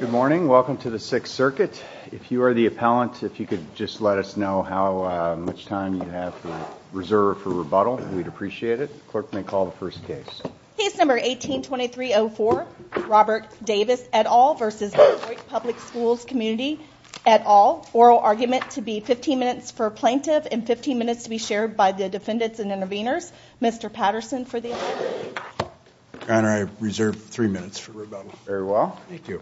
Good morning. Welcome to the Sixth Circuit. If you are the appellant, if you could just let us know how much time you have reserved for rebuttal, we'd appreciate it. Clerk may call the first case. Case number 18-2304, Robert Davis et al. v. Detroit Public Schools Community et al. Oral argument to be 15 minutes for plaintiff and 15 minutes to be shared by the defendants and interveners. Mr. Patterson for the appeal. Your Honor, I reserve three minutes for rebuttal. Very well. Thank you.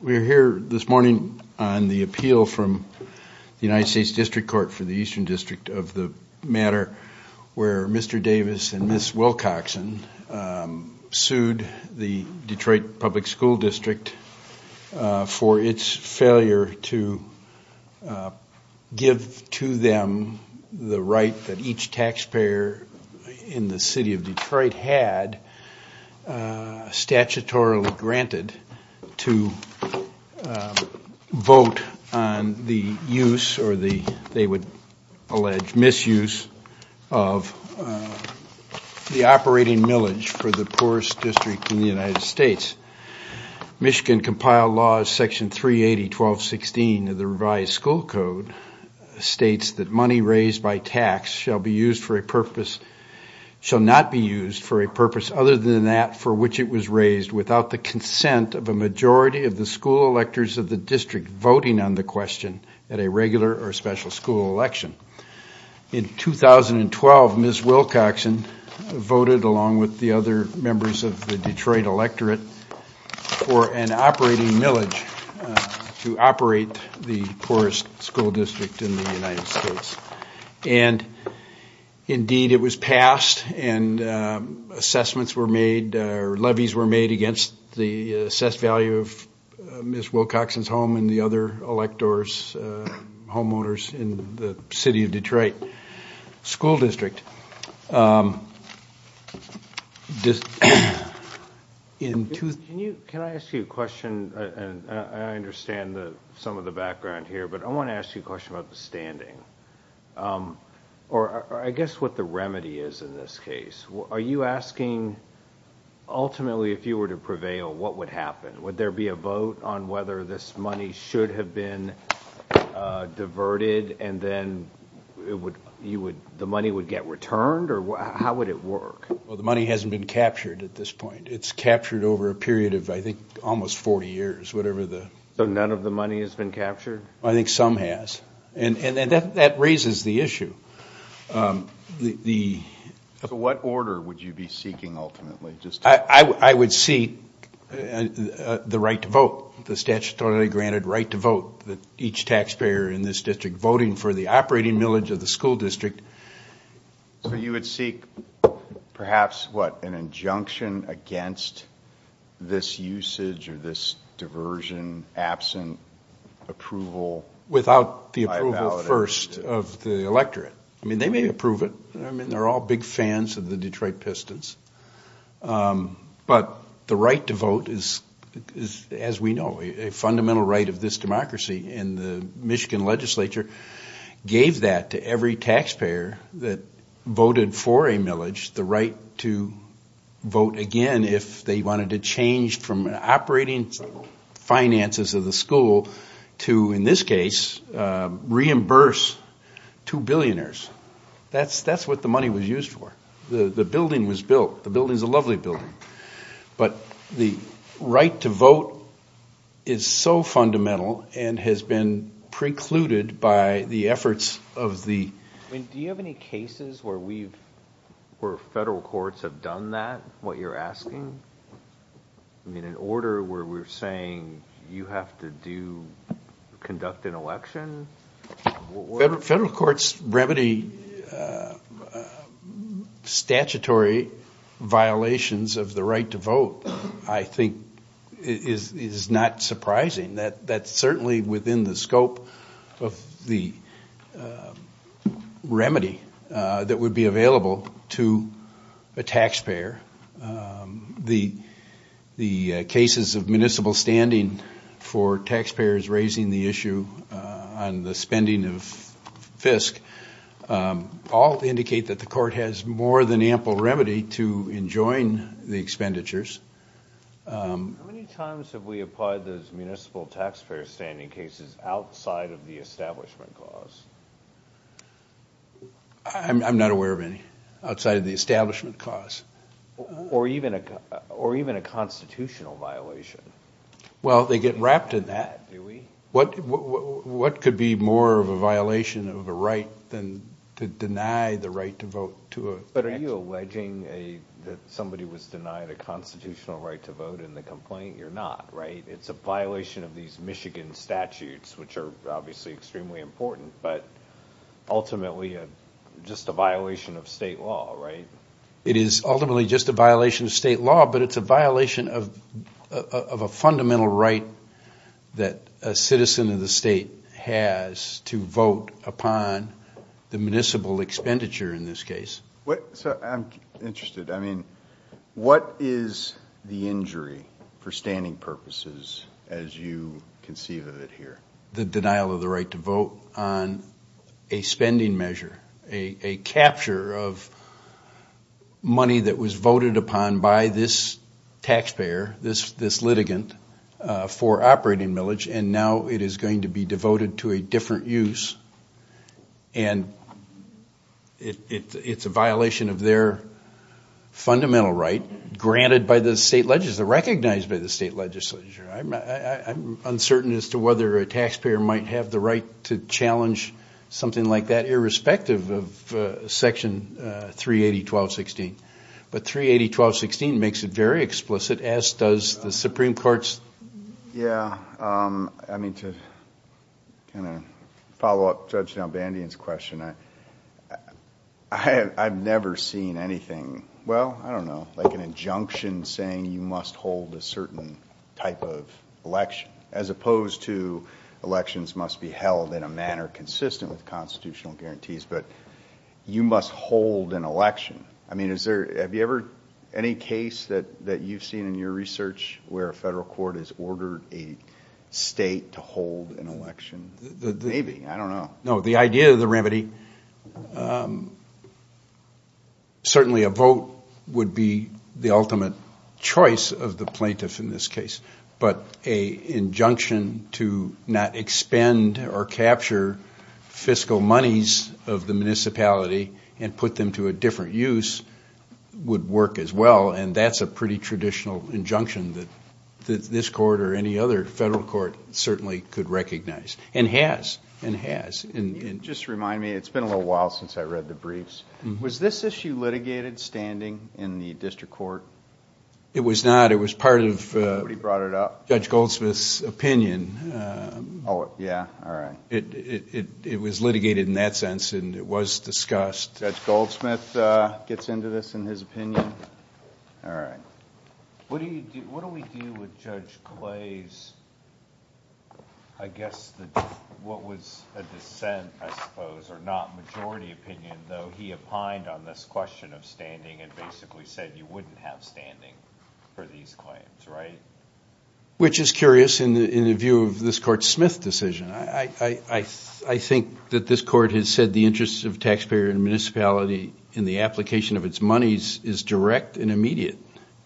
We're here this morning on the appeal from the United States District Court for the Eastern District of the matter where Mr. Davis and Ms. Wilcoxon sued the Detroit Public School District for its failure to give to them the right that each taxpayer in the city of Detroit had statutorily granted to vote on the use or the, they would allege, misuse of the operating millage for the poorest district in the United States. Michigan compiled law section 380-1216 of the revised school code states that money raised by tax shall be used for a purpose, shall not be used for a purpose other than that for which it was raised without the consent of a majority of the school electors of the district voting on the question at a regular or special school election. In 2012, Ms. Wilcoxon voted along with the other members of the Detroit electorate for an operating millage to operate the poorest school district in the United States and indeed it was passed and assessments were made or levies were made against the assessed value of Ms. Wilcoxon's home and the other electors, homeowners in the city of Detroit school district. Just in two... Can you, can I ask you a question and I understand that some of the background here but I want to ask you a question about the standing or I guess what the remedy is in this case. Are you asking ultimately if you were to prevail what would happen? Would there be a vote on whether this money should have been diverted and then it would, you would, the money would get returned or how would it work? Well, the money hasn't been captured at this point. It's captured over a period of I think almost 40 years, whatever the... So none of the money has been captured? I think some has and that raises the issue. The... So what order would you be seeking ultimately? I would seek the right to vote, the statutorily granted right to vote that each taxpayer in this district voting for the operating millage of the school district. So you would seek perhaps what an injunction against this usage or this diversion absent approval? Without the approval first of the electorate. I mean they may approve it. I mean they're all big fans of the Detroit Pistons but the right to vote is as we know a fundamental right of this democracy and the Michigan legislature gave that to every taxpayer that voted for a millage the right to vote again if they wanted to change from operating finances of the school to in this case reimburse two billionaires. That's what the money was used for. The building was built. The building is a lovely building, but the right to vote is so fundamental and has been precluded by the efforts of the... Do you have any cases where we've... where federal courts have done that, what you're asking? I mean in order where we're saying you have to do... conduct an election? Federal courts remedy statutory violations of the right to vote I think is not surprising. That's certainly within the scope of the remedy that would be available to a taxpayer. The cases of municipal standing for taxpayers raising the issue on the spending of FISC all indicate that the court has more than ample remedy to enjoin the expenditures. How many times have we applied those municipal taxpayer standing cases outside of the establishment cause? I'm not aware of any outside of the establishment cause. Or even a constitutional violation. Well, they get wrapped in that. What could be more of a violation of a right than to deny the right to vote to a... But are you alleging that somebody was denied a constitutional right to vote in the complaint? You're not, right? It's a violation of these Michigan statutes, which are obviously extremely important, but ultimately just a violation of state law, right? It is ultimately just a violation of state law, but it's a violation of a fundamental right that a citizen of the state has to vote upon the municipal expenditure in this case. So I'm interested, I mean, what is the injury for standing purposes as you conceive of it here? The denial of the right to vote on a spending measure, a capture of money that was voted upon by this taxpayer, this litigant, for operating millage, and now it is going to be devoted to a different use and it's a violation of their fundamental right, granted by the state legislature, recognized by the state legislature. I'm uncertain as to whether a taxpayer might have the right to challenge something like that irrespective of 380.1216, but 380.1216 makes it very explicit, as does the Supreme Court's... Yeah, I mean, to kind of follow up Judge Nalbandian's question, I've never seen anything, well, I don't know, like an injunction saying you must hold a certain type of election, as opposed to elections must be held in a manner consistent with constitutional guarantees, but you must hold an election. I mean, is there, have you ever, any case that that you've seen in your research where a federal court has ordered a state to hold an election? Maybe, I don't know. No, the idea of the remedy, certainly a vote would be the ultimate choice of the plaintiff in this case, but a injunction to not expend or capture fiscal monies of the municipality and put them to a different use would work as well, and that's a pretty traditional injunction that this court or any other federal court certainly could recognize, and has, and has. Just remind me, it's been a little while since I read the briefs, was this issue litigated standing in the district court? It was not, it was part of... Somebody brought it up. Judge Goldsmith's opinion. Oh, yeah, all right. It was litigated in that sense, and it was discussed. Judge Goldsmith gets into this in his opinion. All right. What do you, what do we do with Judge Clay's, I guess, what was a dissent, I suppose, or not majority opinion, though he opined on this question of standing and basically said you wouldn't have standing for these claims, right? Which is curious in the view of this court's Smith decision. I think that this court has said the interest of taxpayer and municipality in the application of its monies is direct and immediate,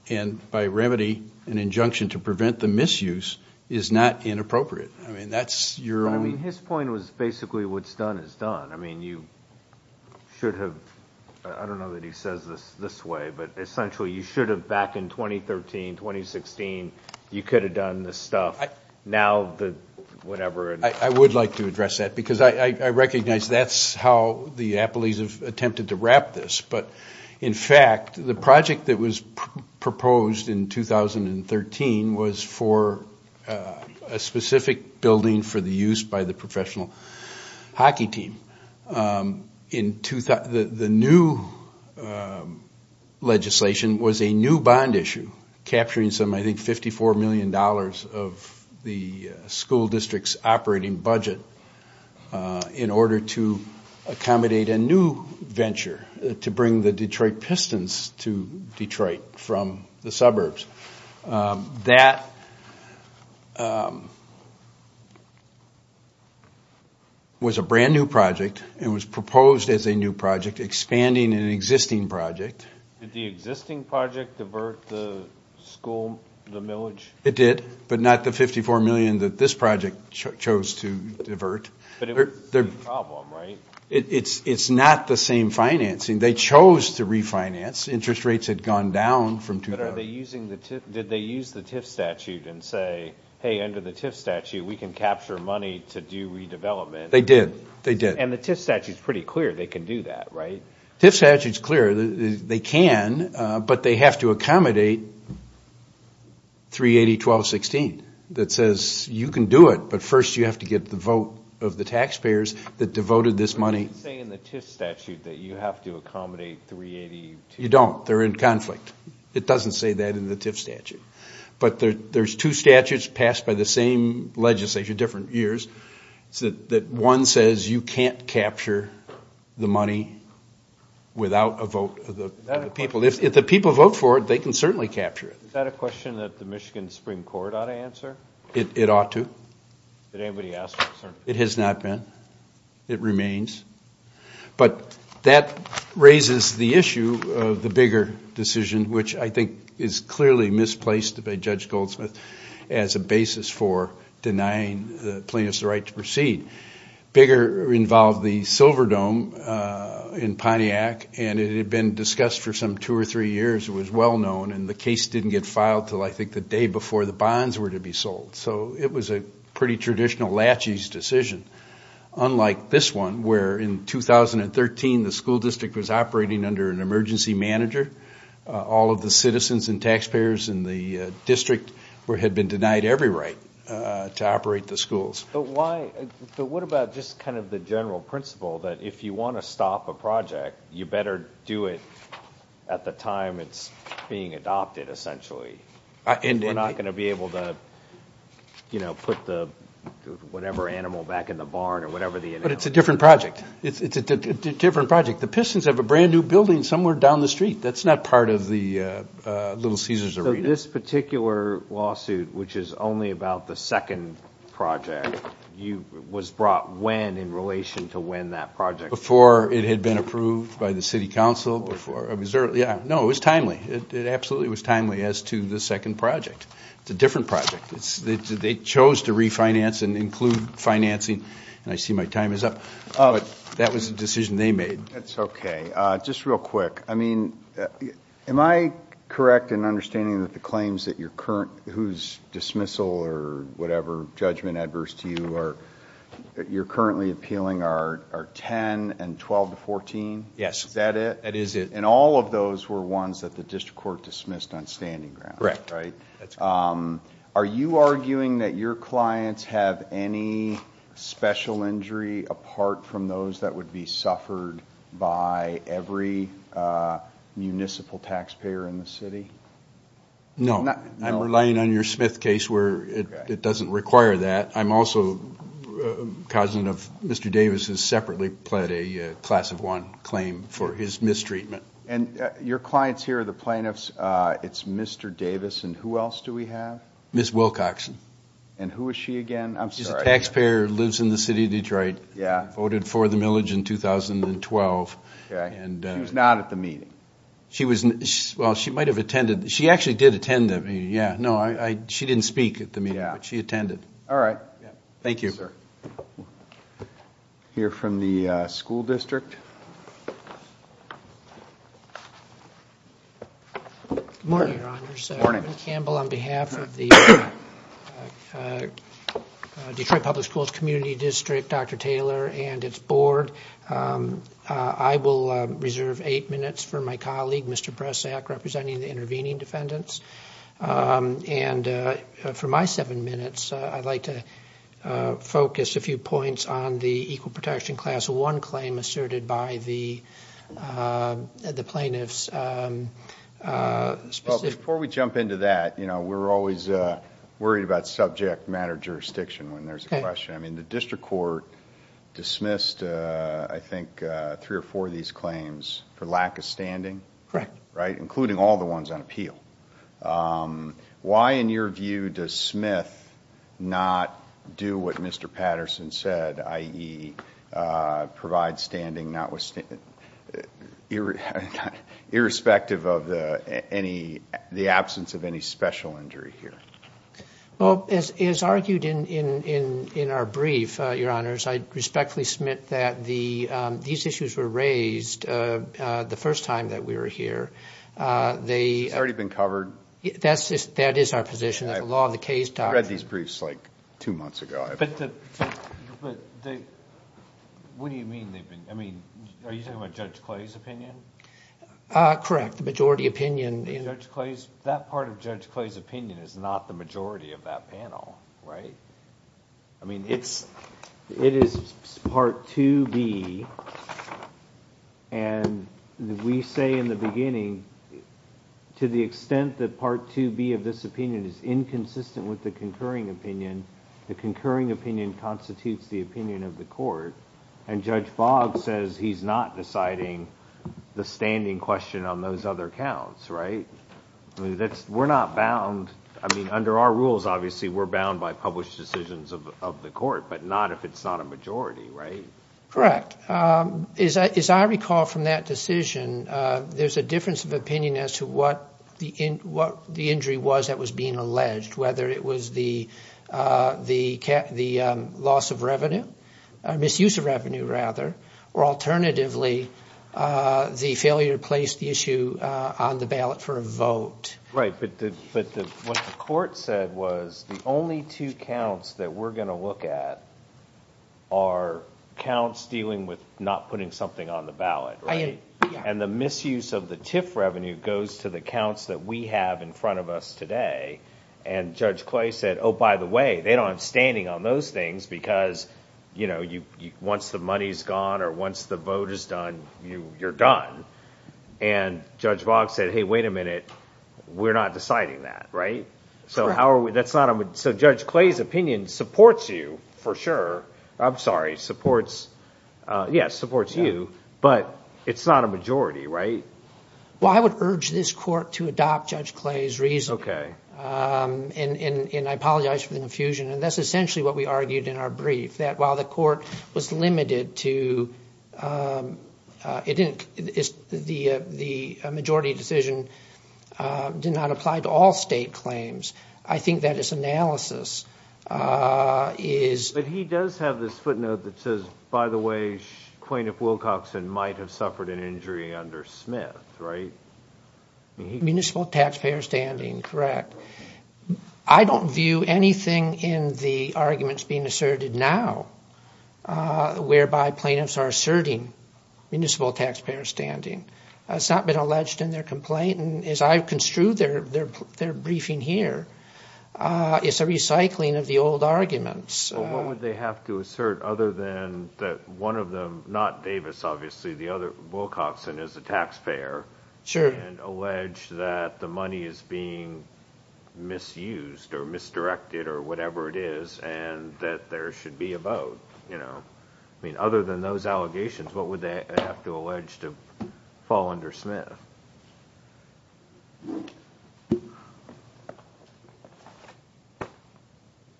and by remedy, an injunction to prevent the misuse is not inappropriate. I mean, that's your own... I mean, his point was basically what's done is done. I mean, you should have, I don't know that he says this this way, but essentially you should have back in 2013, 2016, you could have done this stuff. Now, the whatever... I would like to address that because I recognize that's how the Appleys have attempted to wrap this, but in fact, the project that was proposed in 2013 was for a specific building for the use by the professional hockey team. The new legislation was a new bond issue capturing some, I think, 54 million dollars of the school district's operating budget in order to accommodate a new venture to bring the Detroit Pistons to Detroit from the suburbs. That was a brand new project and was proposed as a new project, expanding an existing project. Did the existing project divert the school, the millage? It did, but not the 54 million that this project chose to divert. But it was the same problem, right? It's not the same financing. They chose to refinance. Interest rates had gone down from two... Did they use the TIF statute and say, hey, under the TIF statute, we can capture money to do redevelopment? They did. They did. And the TIF statute is pretty clear. They can do that, right? TIF statute is clear. They can, but they have to accommodate 380.1216 that says you can do it, but first you have to get the vote of the taxpayers that devoted this money. They say in the TIF statute that you have to accommodate 380... You don't. They're in conflict. It doesn't say that in the TIF statute, but there's two statutes passed by the same legislature, different years, that one says you can't capture the money without a vote of the people. If the people vote for it, they can certainly capture it. Is that a question that the Michigan Supreme Court ought to answer? It ought to. Did anybody ask that, sir? It has not been. It remains. But that raises the issue of the Bigger decision, which I think is clearly misplaced by Judge Goldsmith as a basis for denying plaintiffs the right to proceed. Bigger involved the Silverdome in Pontiac, and it had been discussed for some two or three years. It was well known, and the case didn't get filed until, I think, the day before the bonds were to be sold. So it was a pretty traditional lachie's decision, unlike this one, where in 2013, the school district was operating under an emergency manager. All of the citizens and taxpayers in the district had been denied every right to operate the schools. But what about just kind of the general principle that if you want to stop a project, you better do it at the time it's being adopted, essentially? We're not going to be able to, you know, put the whatever animal back in the barn or whatever the... But it's a different project. It's a different project. The Pistons have a brand new building somewhere down the street. That's not part of the Little Caesars arena. So this particular lawsuit, which is only about the second project, was brought when in relation to when that project... Before it had been approved by the City Council, before... Yeah, no, it was timely. It absolutely was timely as to the second project. It's a different project. They chose to refinance and include financing, and I see my time is up, but that was a decision they made. That's okay. Just real quick. I mean, am I correct in understanding that the claims that you're current... whose dismissal or whatever judgment adverse to you are... Yes. Is that it? That is it. And all of those were ones that the District Court dismissed on standing grounds, right? Are you arguing that your clients have any special injury apart from those that would be suffered by every municipal taxpayer in the city? No, I'm relying on your Smith case where it doesn't require that. I'm also a cousin of Mr. Davis who separately pled a class of one claim for his mistreatment. And your clients here, the plaintiffs, it's Mr. Davis, and who else do we have? Ms. Wilcoxon. And who is she again? I'm sorry. She's a taxpayer, lives in the city of Detroit. Yeah. Voted for the millage in 2012. Okay. She was not at the meeting. She was... well, she might have attended. She actually did attend that meeting, yeah. No, I... she didn't speak at the meeting. Yeah. She attended. All right. Thank you, sir. Hear from the school district. Good morning, Your Honors. Good morning. Kevin Campbell on behalf of the Detroit Public Schools Community District, Dr. Taylor and its board. I will reserve eight minutes for my colleague, Mr. Bressack, representing the intervening defendants. And for my seven minutes, I'd like to focus a few points on the equal protection class of one claim asserted by the plaintiffs. Before we jump into that, you know, we're always worried about subject matter jurisdiction when there's a question. I mean, the district court dismissed, I think, three or four of these claims for lack of standing. Correct. Right, including all the ones on appeal. Why, in your view, does Smith not do what Mr. Patterson said, i.e., provide standing not with... irrespective of any... the absence of any special injury here? Well, as argued in our brief, Your Honors, I respectfully submit that these issues were raised the first time that we were here. It's already been covered. That is our position. That's the law of the case doctrine. I read these briefs, like, two months ago. What do you mean they've been... I mean, are you talking about Judge Clay's opinion? Correct, the majority opinion. Judge Clay's... that part of Judge Clay's opinion is not the majority of that panel, right? I mean, it's... it is Part 2B, and we say in the beginning, to the extent that Part 2B of this opinion is inconsistent with the concurring opinion, the concurring opinion constitutes the opinion of the court, and Judge Boggs says he's not deciding the standing question on those other counts, right? That's... we're not bound. I mean, under our rules, obviously, we're bound by published decisions of the court, but not if it's not a majority, right? Correct. As I recall from that decision, there's a difference of opinion as to what the injury was that was being alleged, whether it was the the loss of revenue, misuse of revenue, rather, or alternatively, the failure to place the issue on the ballot for a vote. Right, but what the court said was the only two counts that we're going to look at are counts dealing with not putting something on the ballot, right? And the misuse of the TIF revenue goes to the counts that we have in front of us today, and Judge Clay said, oh, by the way, they don't have standing on those things because, you know, you... once the money's gone, or once the vote is done, you... you're done, and Judge Boggs said, hey, wait a minute, we're not deciding that, right? So how are we... that's not a... so Judge Clay's opinion supports you, for sure. I'm sorry, supports... yes, supports you, but it's not a majority, right? Well, I would urge this court to adopt Judge Clay's reason. Okay. And... and I apologize for the confusion, and that's essentially what we argued in our brief, that while the court was limited to... it didn't... it's... the... the majority decision did not apply to all state claims. I think that its analysis is... But he does have this footnote that says, by the way, plaintiff Wilcoxon might have suffered an injury under Smith, right? Municipal taxpayer standing, correct. I don't view anything in the arguments being asserted now whereby plaintiffs are asserting municipal taxpayer standing. It's not been alleged in their complaint, and as I've construed their... their... their briefing here, it's a recycling of the old arguments. Well, what would they have to assert other than that one of them... not Davis, obviously, the other... Wilcoxon is a taxpayer. Sure. And allege that the money is being misused, or misdirected, or whatever it is, and that there should be a vote, you know. I mean, other than those allegations, what would they have to allege to fall under Smith?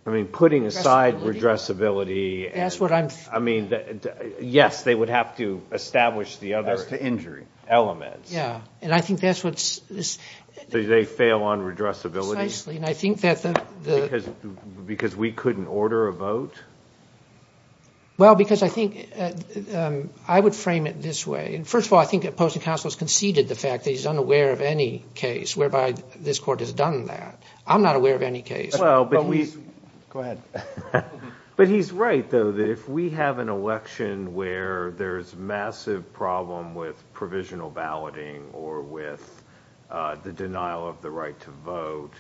I mean, putting aside redressability... That's what I'm... I mean, yes, they would have to establish the other... As to injury. Elements. Yeah, and I think that's what's... They fail on redressability? Precisely, and I think that the... Because we couldn't order a vote? Well, because I think... I would frame it this way, and first of all, I think opposing counsel has conceded the fact that he's unaware of any case whereby this court has done that. I'm not aware of any case. Well, but we... Go ahead. But he's right, though, that if we have an election where there's massive problem with provisional balloting or with the denial of the right to vote,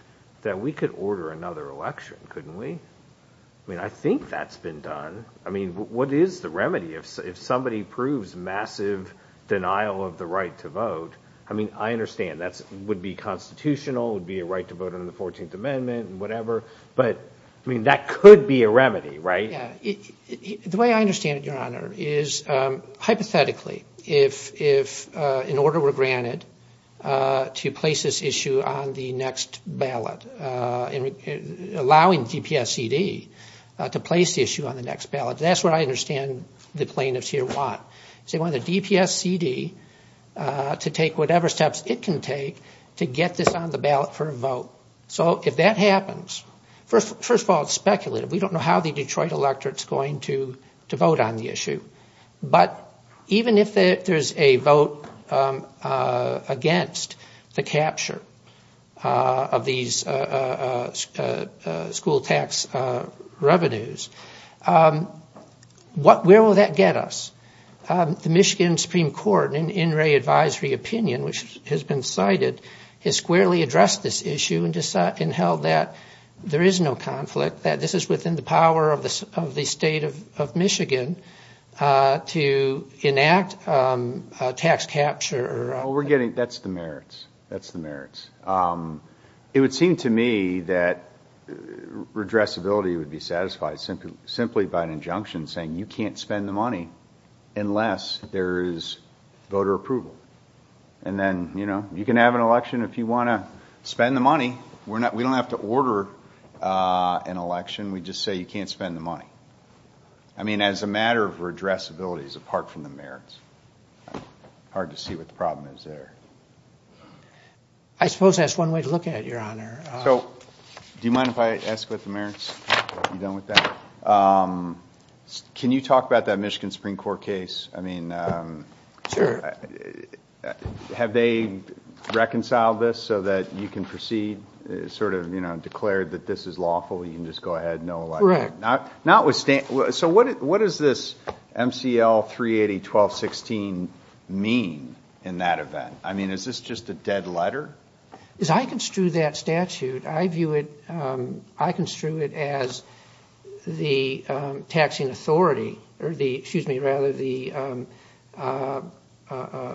that we could order another election, couldn't we? I mean, I think that's been done. I mean, what is the remedy if somebody proves massive denial of the right to vote? I mean, I understand that would be constitutional, would be a right to vote under the 14th Amendment and whatever, but I mean, that could be a remedy, right? The way I understand it, Your Honor, is hypothetically, if, in order we're granted to place this issue on the next ballot, allowing DPSCD to place the issue on the next ballot, that's what I understand the plaintiffs here want. They want the DPSCD to take whatever steps it can take to get this on the ballot for a vote. So if that happens, first of all, it's speculative. We don't know how the Detroit electorate's going to vote on the issue. But even if there's a vote against the capture of these school tax revenues, where will that get us? The Michigan Supreme Court, in in-ray advisory opinion, which has been cited, has squarely addressed this issue and held that there is no conflict, that this is within the power of the state of Michigan to enact tax capture. Well, we're getting, that's the merits. That's the merits. It would seem to me that redressability would be satisfied simply by an injunction saying you can't spend the money unless there is voter approval. And then, you know, you can have an election if you want to spend the money. We're not, we don't have to order an election. We just say you can't spend the money. I mean, as a matter of redressability, apart from the merits, hard to see what the problem is there. I suppose that's one way to look at it, Your Honor. So, do you mind if I ask what the merits are? Are you done with that? Can you talk about that Michigan Supreme Court case? I mean, have they reconciled this so that you can proceed? Sort of, you know, declared that this is lawful. You can just go ahead and no election. Correct. Not with, so what is this MCL 380-1216 mean in that event? I mean, is this just a dead letter? As I construe that statute, I view it, I construe it as the taxing authority, or the, excuse me, rather the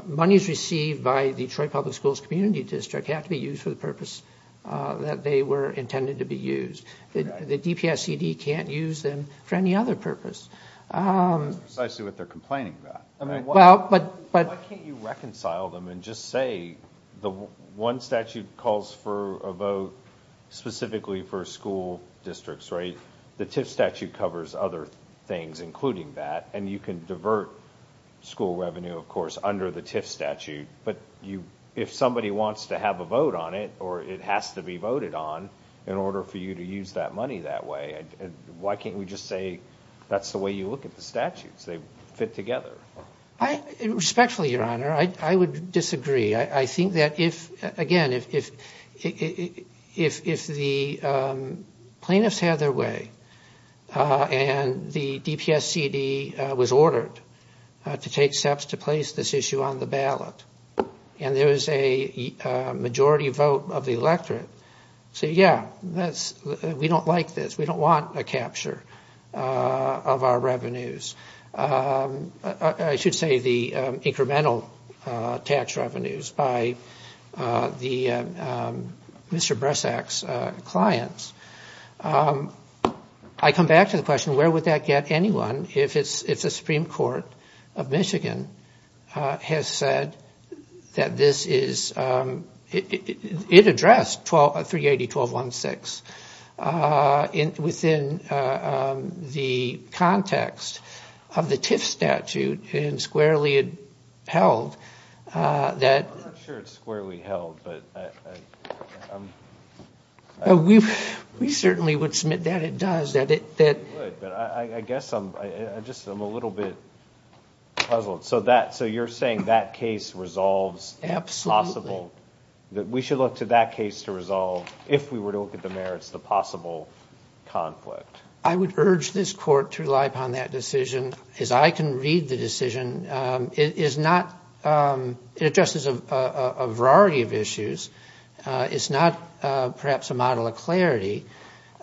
monies received by the Detroit Public Schools Community District have to be used for the purpose that they were intended to be used. The DPSCD can't use them for any other purpose. That's precisely what they're complaining about. I mean, why can't you reconcile them and just say the one statute calls for a vote specifically for school districts, right? The TIF statute covers other things, including that, and you can divert school revenue, of course, under the TIF statute. But you, if somebody wants to have a vote on it, or it has to be voted on in order for you to use that money that way, why can't we just say that's the way you look at the statutes? They fit together. Respectfully, Your Honor, I would disagree. I think that if, again, if if the plaintiffs had their way, and the DPSCD was ordered to take steps to place this issue on the ballot, and there is a we don't like this. We don't want a capture of our revenues. I should say the incremental tax revenues by the Mr. Bressack's clients. I come back to the question, where would that get anyone if it's a Supreme Court of Michigan has said that this is it addressed 380-1216. Within the context of the TIF statute, and squarely held, that... We certainly would submit that it does. I guess I'm just a little bit puzzled. So that, so you're saying that case resolves? Absolutely. That we should look to that case to resolve, if we were to look at the merits, the possible conflict. I would urge this court to rely upon that decision, as I can read the decision. It is not... It addresses a variety of issues. It's not perhaps a model of clarity.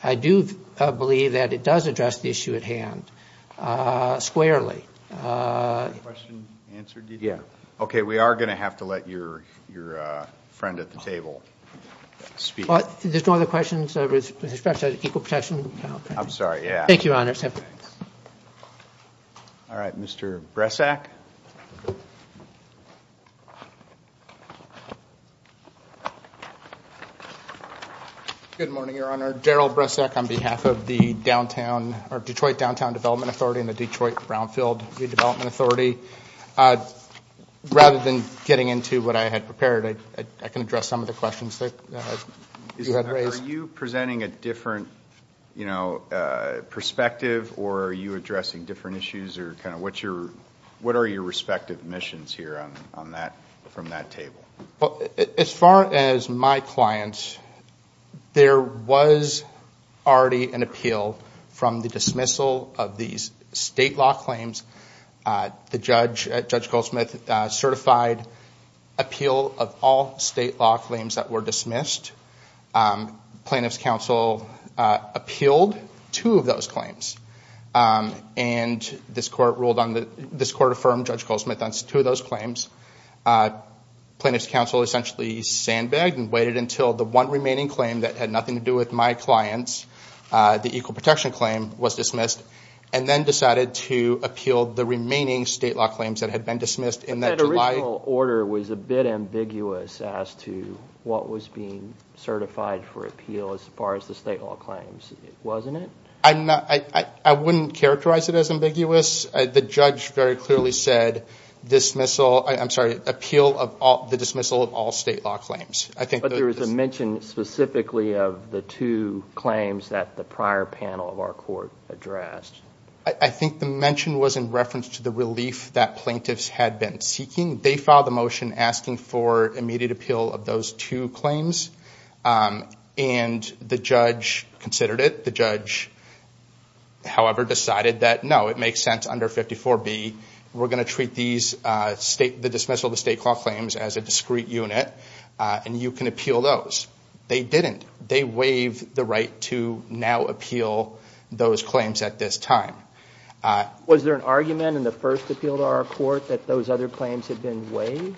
I do believe that it does address the issue at hand, squarely. Question answered, did you? Yeah. Okay, we are going to have to let your friend at the table speak. There's no other questions, with respect to Equal Protection? I'm sorry, yeah. Thank you, Your Honor. All right, Mr. Bressack. Good morning, Your Honor. Daryl Bressack on behalf of the Detroit Downtown Development Authority, and the Detroit Brownfield Redevelopment Authority. Rather than getting into what I had prepared, I can address some of the questions that you had raised. Are you presenting a different, you know, perspective, or are you addressing different issues, or kind of, what are your respective missions here on that, from that table? Well, as far as my clients, there was already an appeal from the dismissal of these state law claims. The judge, Judge Goldsmith, certified appeal of all state law claims that were dismissed. Plaintiff's counsel appealed two of those claims. And this court ruled on the, this court affirmed, Judge Goldsmith, on two of those claims. Plaintiff's counsel essentially sandbagged and waited until the one remaining claim that had nothing to do with my clients, the Equal Protection claim, was dismissed, and then decided to appeal the remaining state law claims that had been dismissed in that July... But that original order was a bit ambiguous as to what was being certified for appeal, as far as the state law claims, wasn't it? I'm not, I wouldn't characterize it as ambiguous. The judge very clearly said, dismissal, I'm sorry, appeal of all, the dismissal of all state law claims. I think... But there was a mention specifically of the two claims that the prior panel of our court addressed. I think the mention was in reference to the relief that plaintiffs had been seeking. They filed the motion asking for immediate appeal of those two claims. And the judge considered it. The judge, however, decided that, no, it makes sense under 54B, we're going to treat these state, the dismissal of the state law claims as a discrete unit, and you can appeal those. They didn't. They waived the right to now appeal those claims at this time. Was there an argument in the first appeal to our court that those other claims had been waived?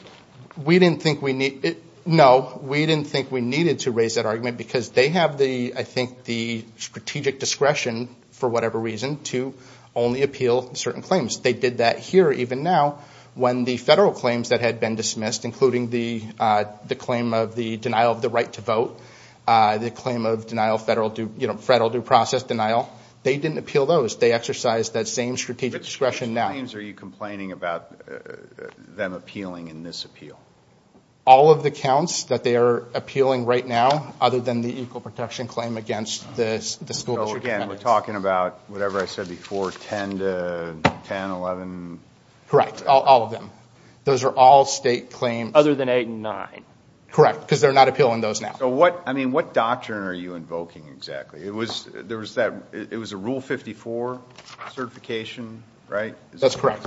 We didn't think we needed, no, we didn't think we needed to raise that argument because they have the, I think, the reason to only appeal certain claims. They did that here, even now, when the federal claims that had been dismissed, including the claim of the denial of the right to vote, the claim of denial, federal due process denial, they didn't appeal those. They exercised that same strategic discretion now. Which claims are you complaining about them appealing in this appeal? All of the counts that they are appealing right now, other than the Equal Protection Claim against the school district. So again, we're talking about whatever I said before, 10 to 10, 11. Correct, all of them. Those are all state claims. Other than 8 and 9. Correct, because they're not appealing those now. So what, I mean, what doctrine are you invoking exactly? It was, there was that, it was a rule 54 certification, right? That's correct.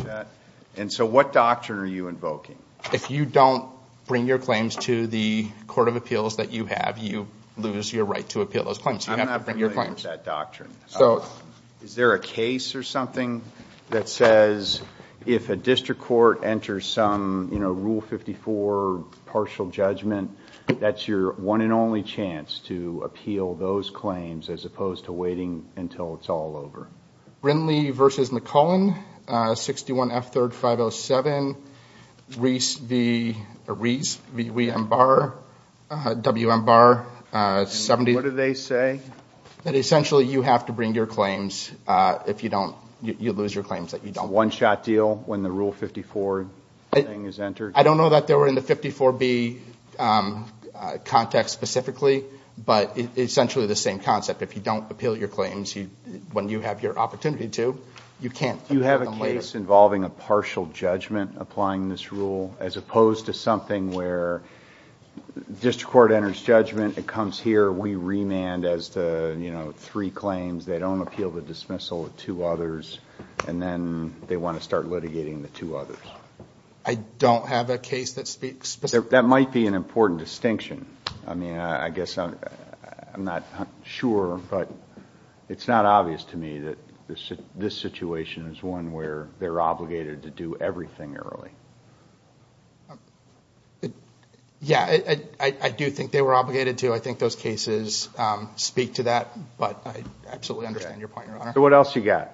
And so what doctrine are you invoking? If you don't bring your claims to the court, what doctrine? So is there a case or something that says, if a district court enters some, you know, Rule 54 partial judgment, that's your one and only chance to appeal those claims, as opposed to waiting until it's all over. Brinley v. McClellan, 61 F3rd 507, Reese v. M. Barr, W. M. Barr, 70. What do they say? That essentially you have to bring your claims, if you don't, you lose your claims that you don't. One-shot deal when the Rule 54 thing is entered? I don't know that they were in the 54B context specifically, but essentially the same concept. If you don't appeal your claims, when you have your opportunity to, you can't. Do you have a case involving a partial judgment applying this rule, as opposed to something where district court enters judgment, it comes here, we remand as to, you know, three claims, they don't appeal the dismissal of two others, and then they want to start litigating the two others. I don't have a case that speaks... That might be an important distinction. I mean, I guess I'm not sure, but it's not obvious to me that this situation is one where they're obligated to do everything early. Yeah, I do think they were obligated to. I think those cases speak to that, but I absolutely understand your point, Your Honor. So what else you got?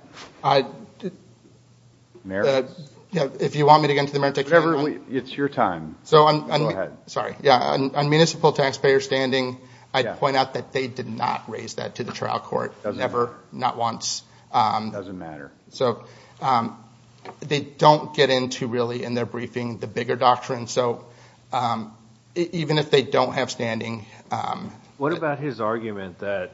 If you want me to get into the merit-take-free time? It's your time. Sorry, yeah, on municipal taxpayer standing, I'd point out that they did not raise that to the trial court, never, not once. It doesn't matter. So they don't get into, really, in their briefing, the bigger doctrine, so even if they don't have standing... What about his argument that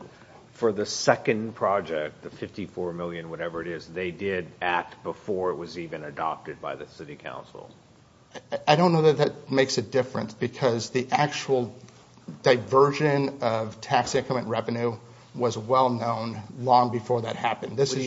for the second project, the 54 million, whatever it is, they did act before it was even adopted by the City Council? I don't know that that makes a difference, because the actual diversion of tax increment revenue was well known long before that happened. What do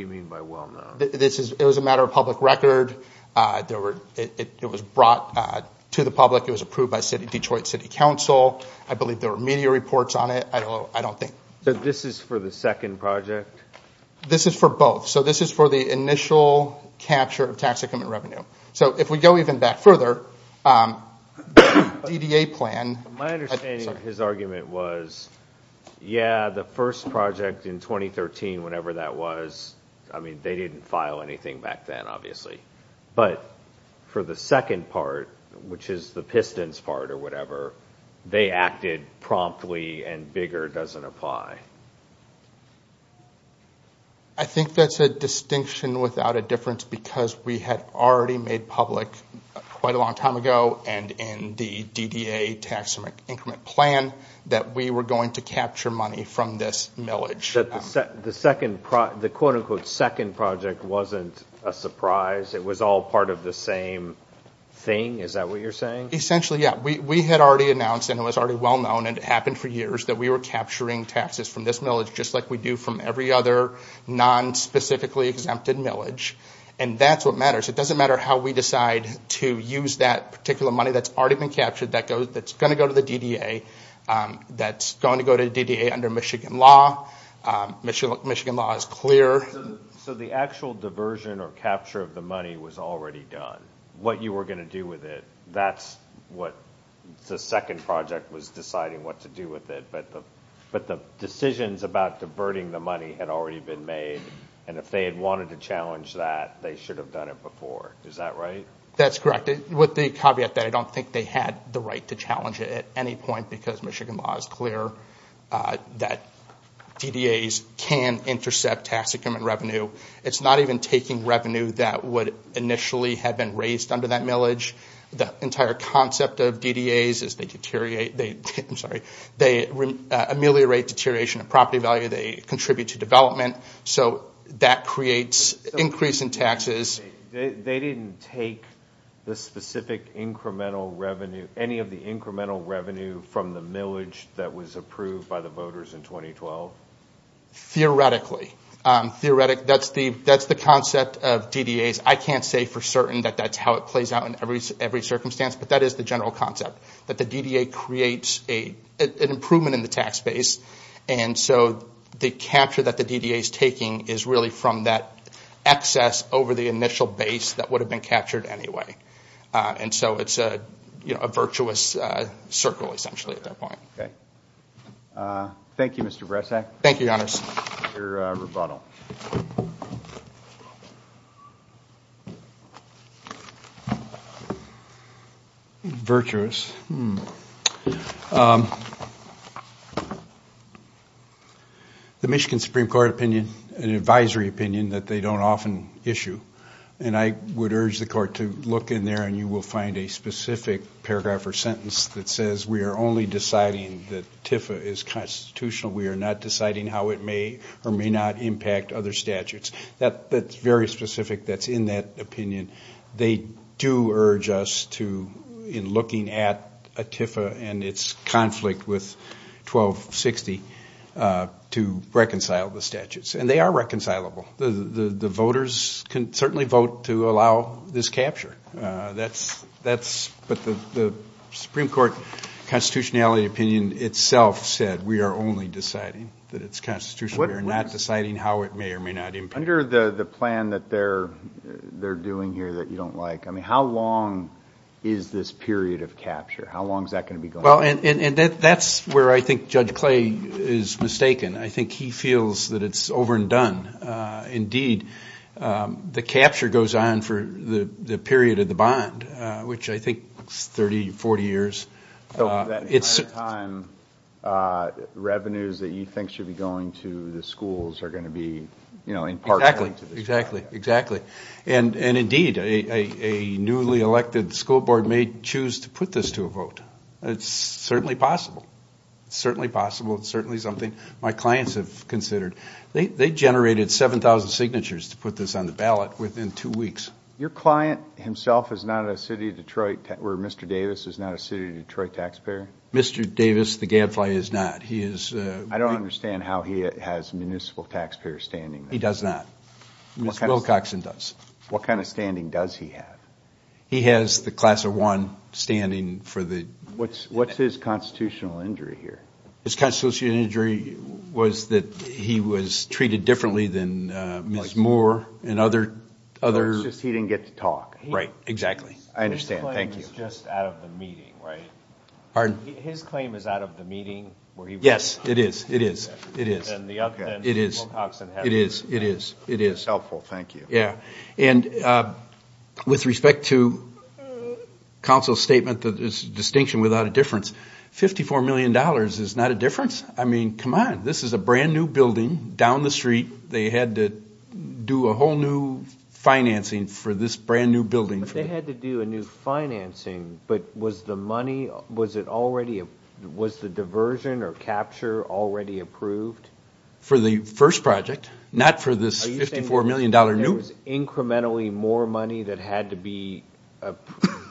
you mean by well known? It was a matter of public record, it was brought to the public, it was approved by Detroit City Council, I believe there were media reports on it, I don't think. So this is for the second project? This is for both. So this is for the initial capture of tax increment revenue. So if we go even back further, the DDA plan... My understanding of his argument was, yeah, the first project in 2013, whatever that was, I mean, they didn't file anything back then, obviously. But for the second part, which is the Pistons part or whatever, they acted promptly and bigger doesn't apply. I think that's a distinction without a difference, because we had already made public quite a long time ago, and in the DDA tax increment plan, that we were going to capture money from this millage. The quote-unquote second project wasn't a surprise? It was all part of the same thing? Is that what you're saying? Essentially, yeah. We had already announced, and it was already well-known, and it happened for years, that we were capturing taxes from this millage, just like we do from every other non-specifically exempted millage. And that's what matters. It doesn't matter how we decide to use that particular money that's already been captured, that's going to go to the DDA, that's going to go to the DDA under Michigan law. Michigan law is clear. So the actual diversion or capture of the money was already done. What you were going to do with it, that's what the second project was deciding what to do with it. But the decisions about diverting the money had already been made, and if they had wanted to challenge that, they should have done it before. Is that right? That's correct. With the caveat that I don't think they had the right to challenge it at any point, because Michigan law is clear that DDAs can intercept tax increment revenue. It's not even taking revenue that would initially have been raised under that millage. The entire concept of DDAs is they ameliorate deterioration of property value, they contribute to development, so that creates increase in taxes. They didn't take the specific incremental revenue, any of the incremental revenue from the millage that was approved by the voters in 2012? Theoretically. That's the concept of DDAs. I can't say for certain that that's how it plays out in every circumstance, but that is the general concept. That the DDA creates an improvement in the tax base, and so the capture that the DDA is taking is really from that excess over the initial base that would have been captured anyway. It's a virtuous circle, essentially, at that point. Okay. Thank you, Mr. Bresak. Thank you, Your Honors. Your rebuttal. Virtuous. The Michigan Supreme Court opinion, an advisory opinion that they don't often issue, and I would urge the Court to look in there and you will find a specific paragraph or sentence that says we are only deciding that TIFA is constitutional, we are not deciding how it may or may not impact other statutes. That's very specific, that's in that opinion. They do urge us to, in looking at a TIFA and its conflict with 1260, to reconcile the statutes. And they are reconcilable. The voters can certainly vote to allow this capture. But the Supreme Court constitutionality opinion itself said we are only deciding that it's constitutional. We are not deciding how it may or may not impact. Under the plan that they're doing here that you don't like, I mean, how long is this period of capture? How long is that going to be going on? Well, and that's where I think Judge Clay is mistaken. I think he feels that it's over and done. Indeed, the capture goes on for the period of the bond, which I think is 30, 40 years. So that amount of time, revenues that you think should be going to the schools are going to be, you know, in part going to the schools. Exactly, exactly. And indeed, a newly elected school board may choose to put this to a vote. It's certainly possible. It's certainly possible, it's certainly something my clients have considered. They generated 7,000 signatures to put this on the ballot within two weeks. Your client himself is not a City of Detroit, or Mr. Davis is not a City of Detroit taxpayer? Mr. Davis, the gadfly, is not. I don't understand how he has municipal taxpayer standing. He does not. Ms. Wilcoxon does. What kind of standing does he have? He has the class of one standing for the- What's his constitutional injury here? His constitutional injury was that he was treated differently than Ms. Moore and other- So it's just he didn't get to talk. Right, exactly. I understand, thank you. His claim is just out of the meeting, right? Pardon? His claim is out of the meeting where he was- Yes, it is, it is, it is. Then Ms. Wilcoxon has- It is, it is, it is. Helpful, thank you. With respect to counsel's statement that it's a distinction without a difference, $54 million is not a difference? I mean, come on. This is a brand new building down the street. They had to do a whole new financing for this brand new building. They had to do a new financing, but was the money, was it already, was the diversion or capture already approved? For the first project, not for this $54 million new building. Was there always incrementally more money that had to be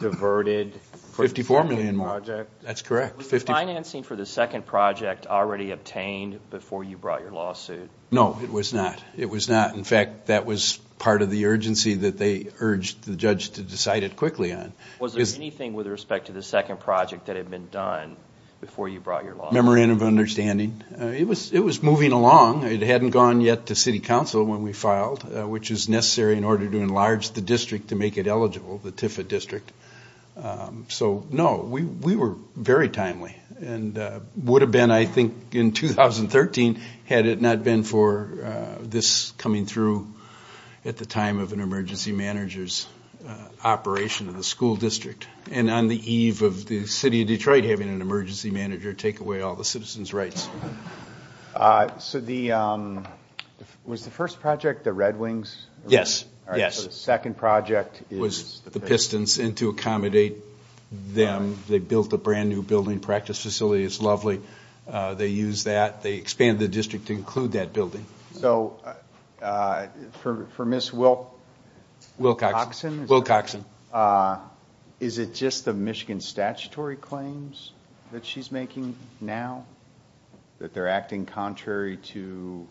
diverted for the second project? $54 million more, that's correct. Was the financing for the second project already obtained before you brought your lawsuit? No, it was not. It was not. In fact, that was part of the urgency that they urged the judge to decide it quickly on. Was there anything with respect to the second project that had been done before you brought your lawsuit? Memorandum of understanding. It was moving along. It hadn't gone yet to city council when we filed, which is necessary in order to enlarge the district to make it eligible, the TIFA district. So, no, we were very timely and would have been, I think, in 2013 had it not been for this coming through at the time of an emergency manager's operation of the school district and on the eve of the city of Detroit having an emergency manager take away all the citizens' rights. So, was the first project the Red Wings? Yes. The second project is the Pistons. It was the Pistons. And to accommodate them, they built a brand new building practice facility. It's lovely. They used that. They expanded the district to include that building. So, for Ms. Wilcoxon, is it just the Michigan statutory claims that she's making now? That they're acting contrary to,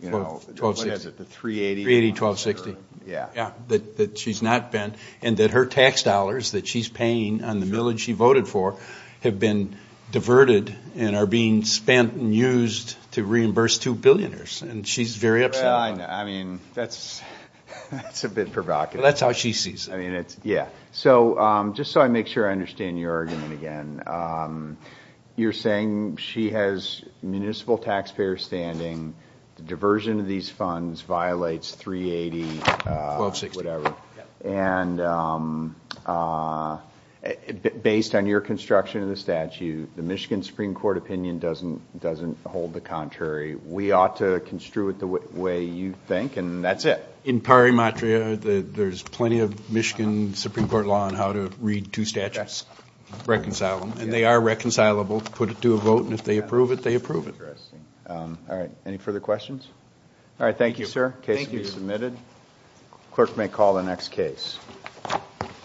you know, what is it, the 380? 380-1260. Yeah. That she's not bent and that her tax dollars that she's paying on the millage she voted for have been diverted and are being spent and used to reimburse two billionaires. And she's very upset about that. I mean, that's a bit provocative. That's how she sees it. I mean, it's, yeah. So, just so I make sure I understand your argument again, you're saying she has municipal taxpayer standing, the diversion of these funds violates 380- 1260. Whatever. And based on your construction of the statute, the Michigan Supreme Court opinion doesn't hold the contrary. We ought to construe it the way you think, and that's it. In pari matria, there's plenty of Michigan Supreme Court law on how to read two statutes, reconcile them. And they are reconcilable. Put it to a vote, and if they approve it, they approve it. Interesting. All right. Any further questions? All right. Thank you, sir. Case can be submitted. Clerk may call the next case.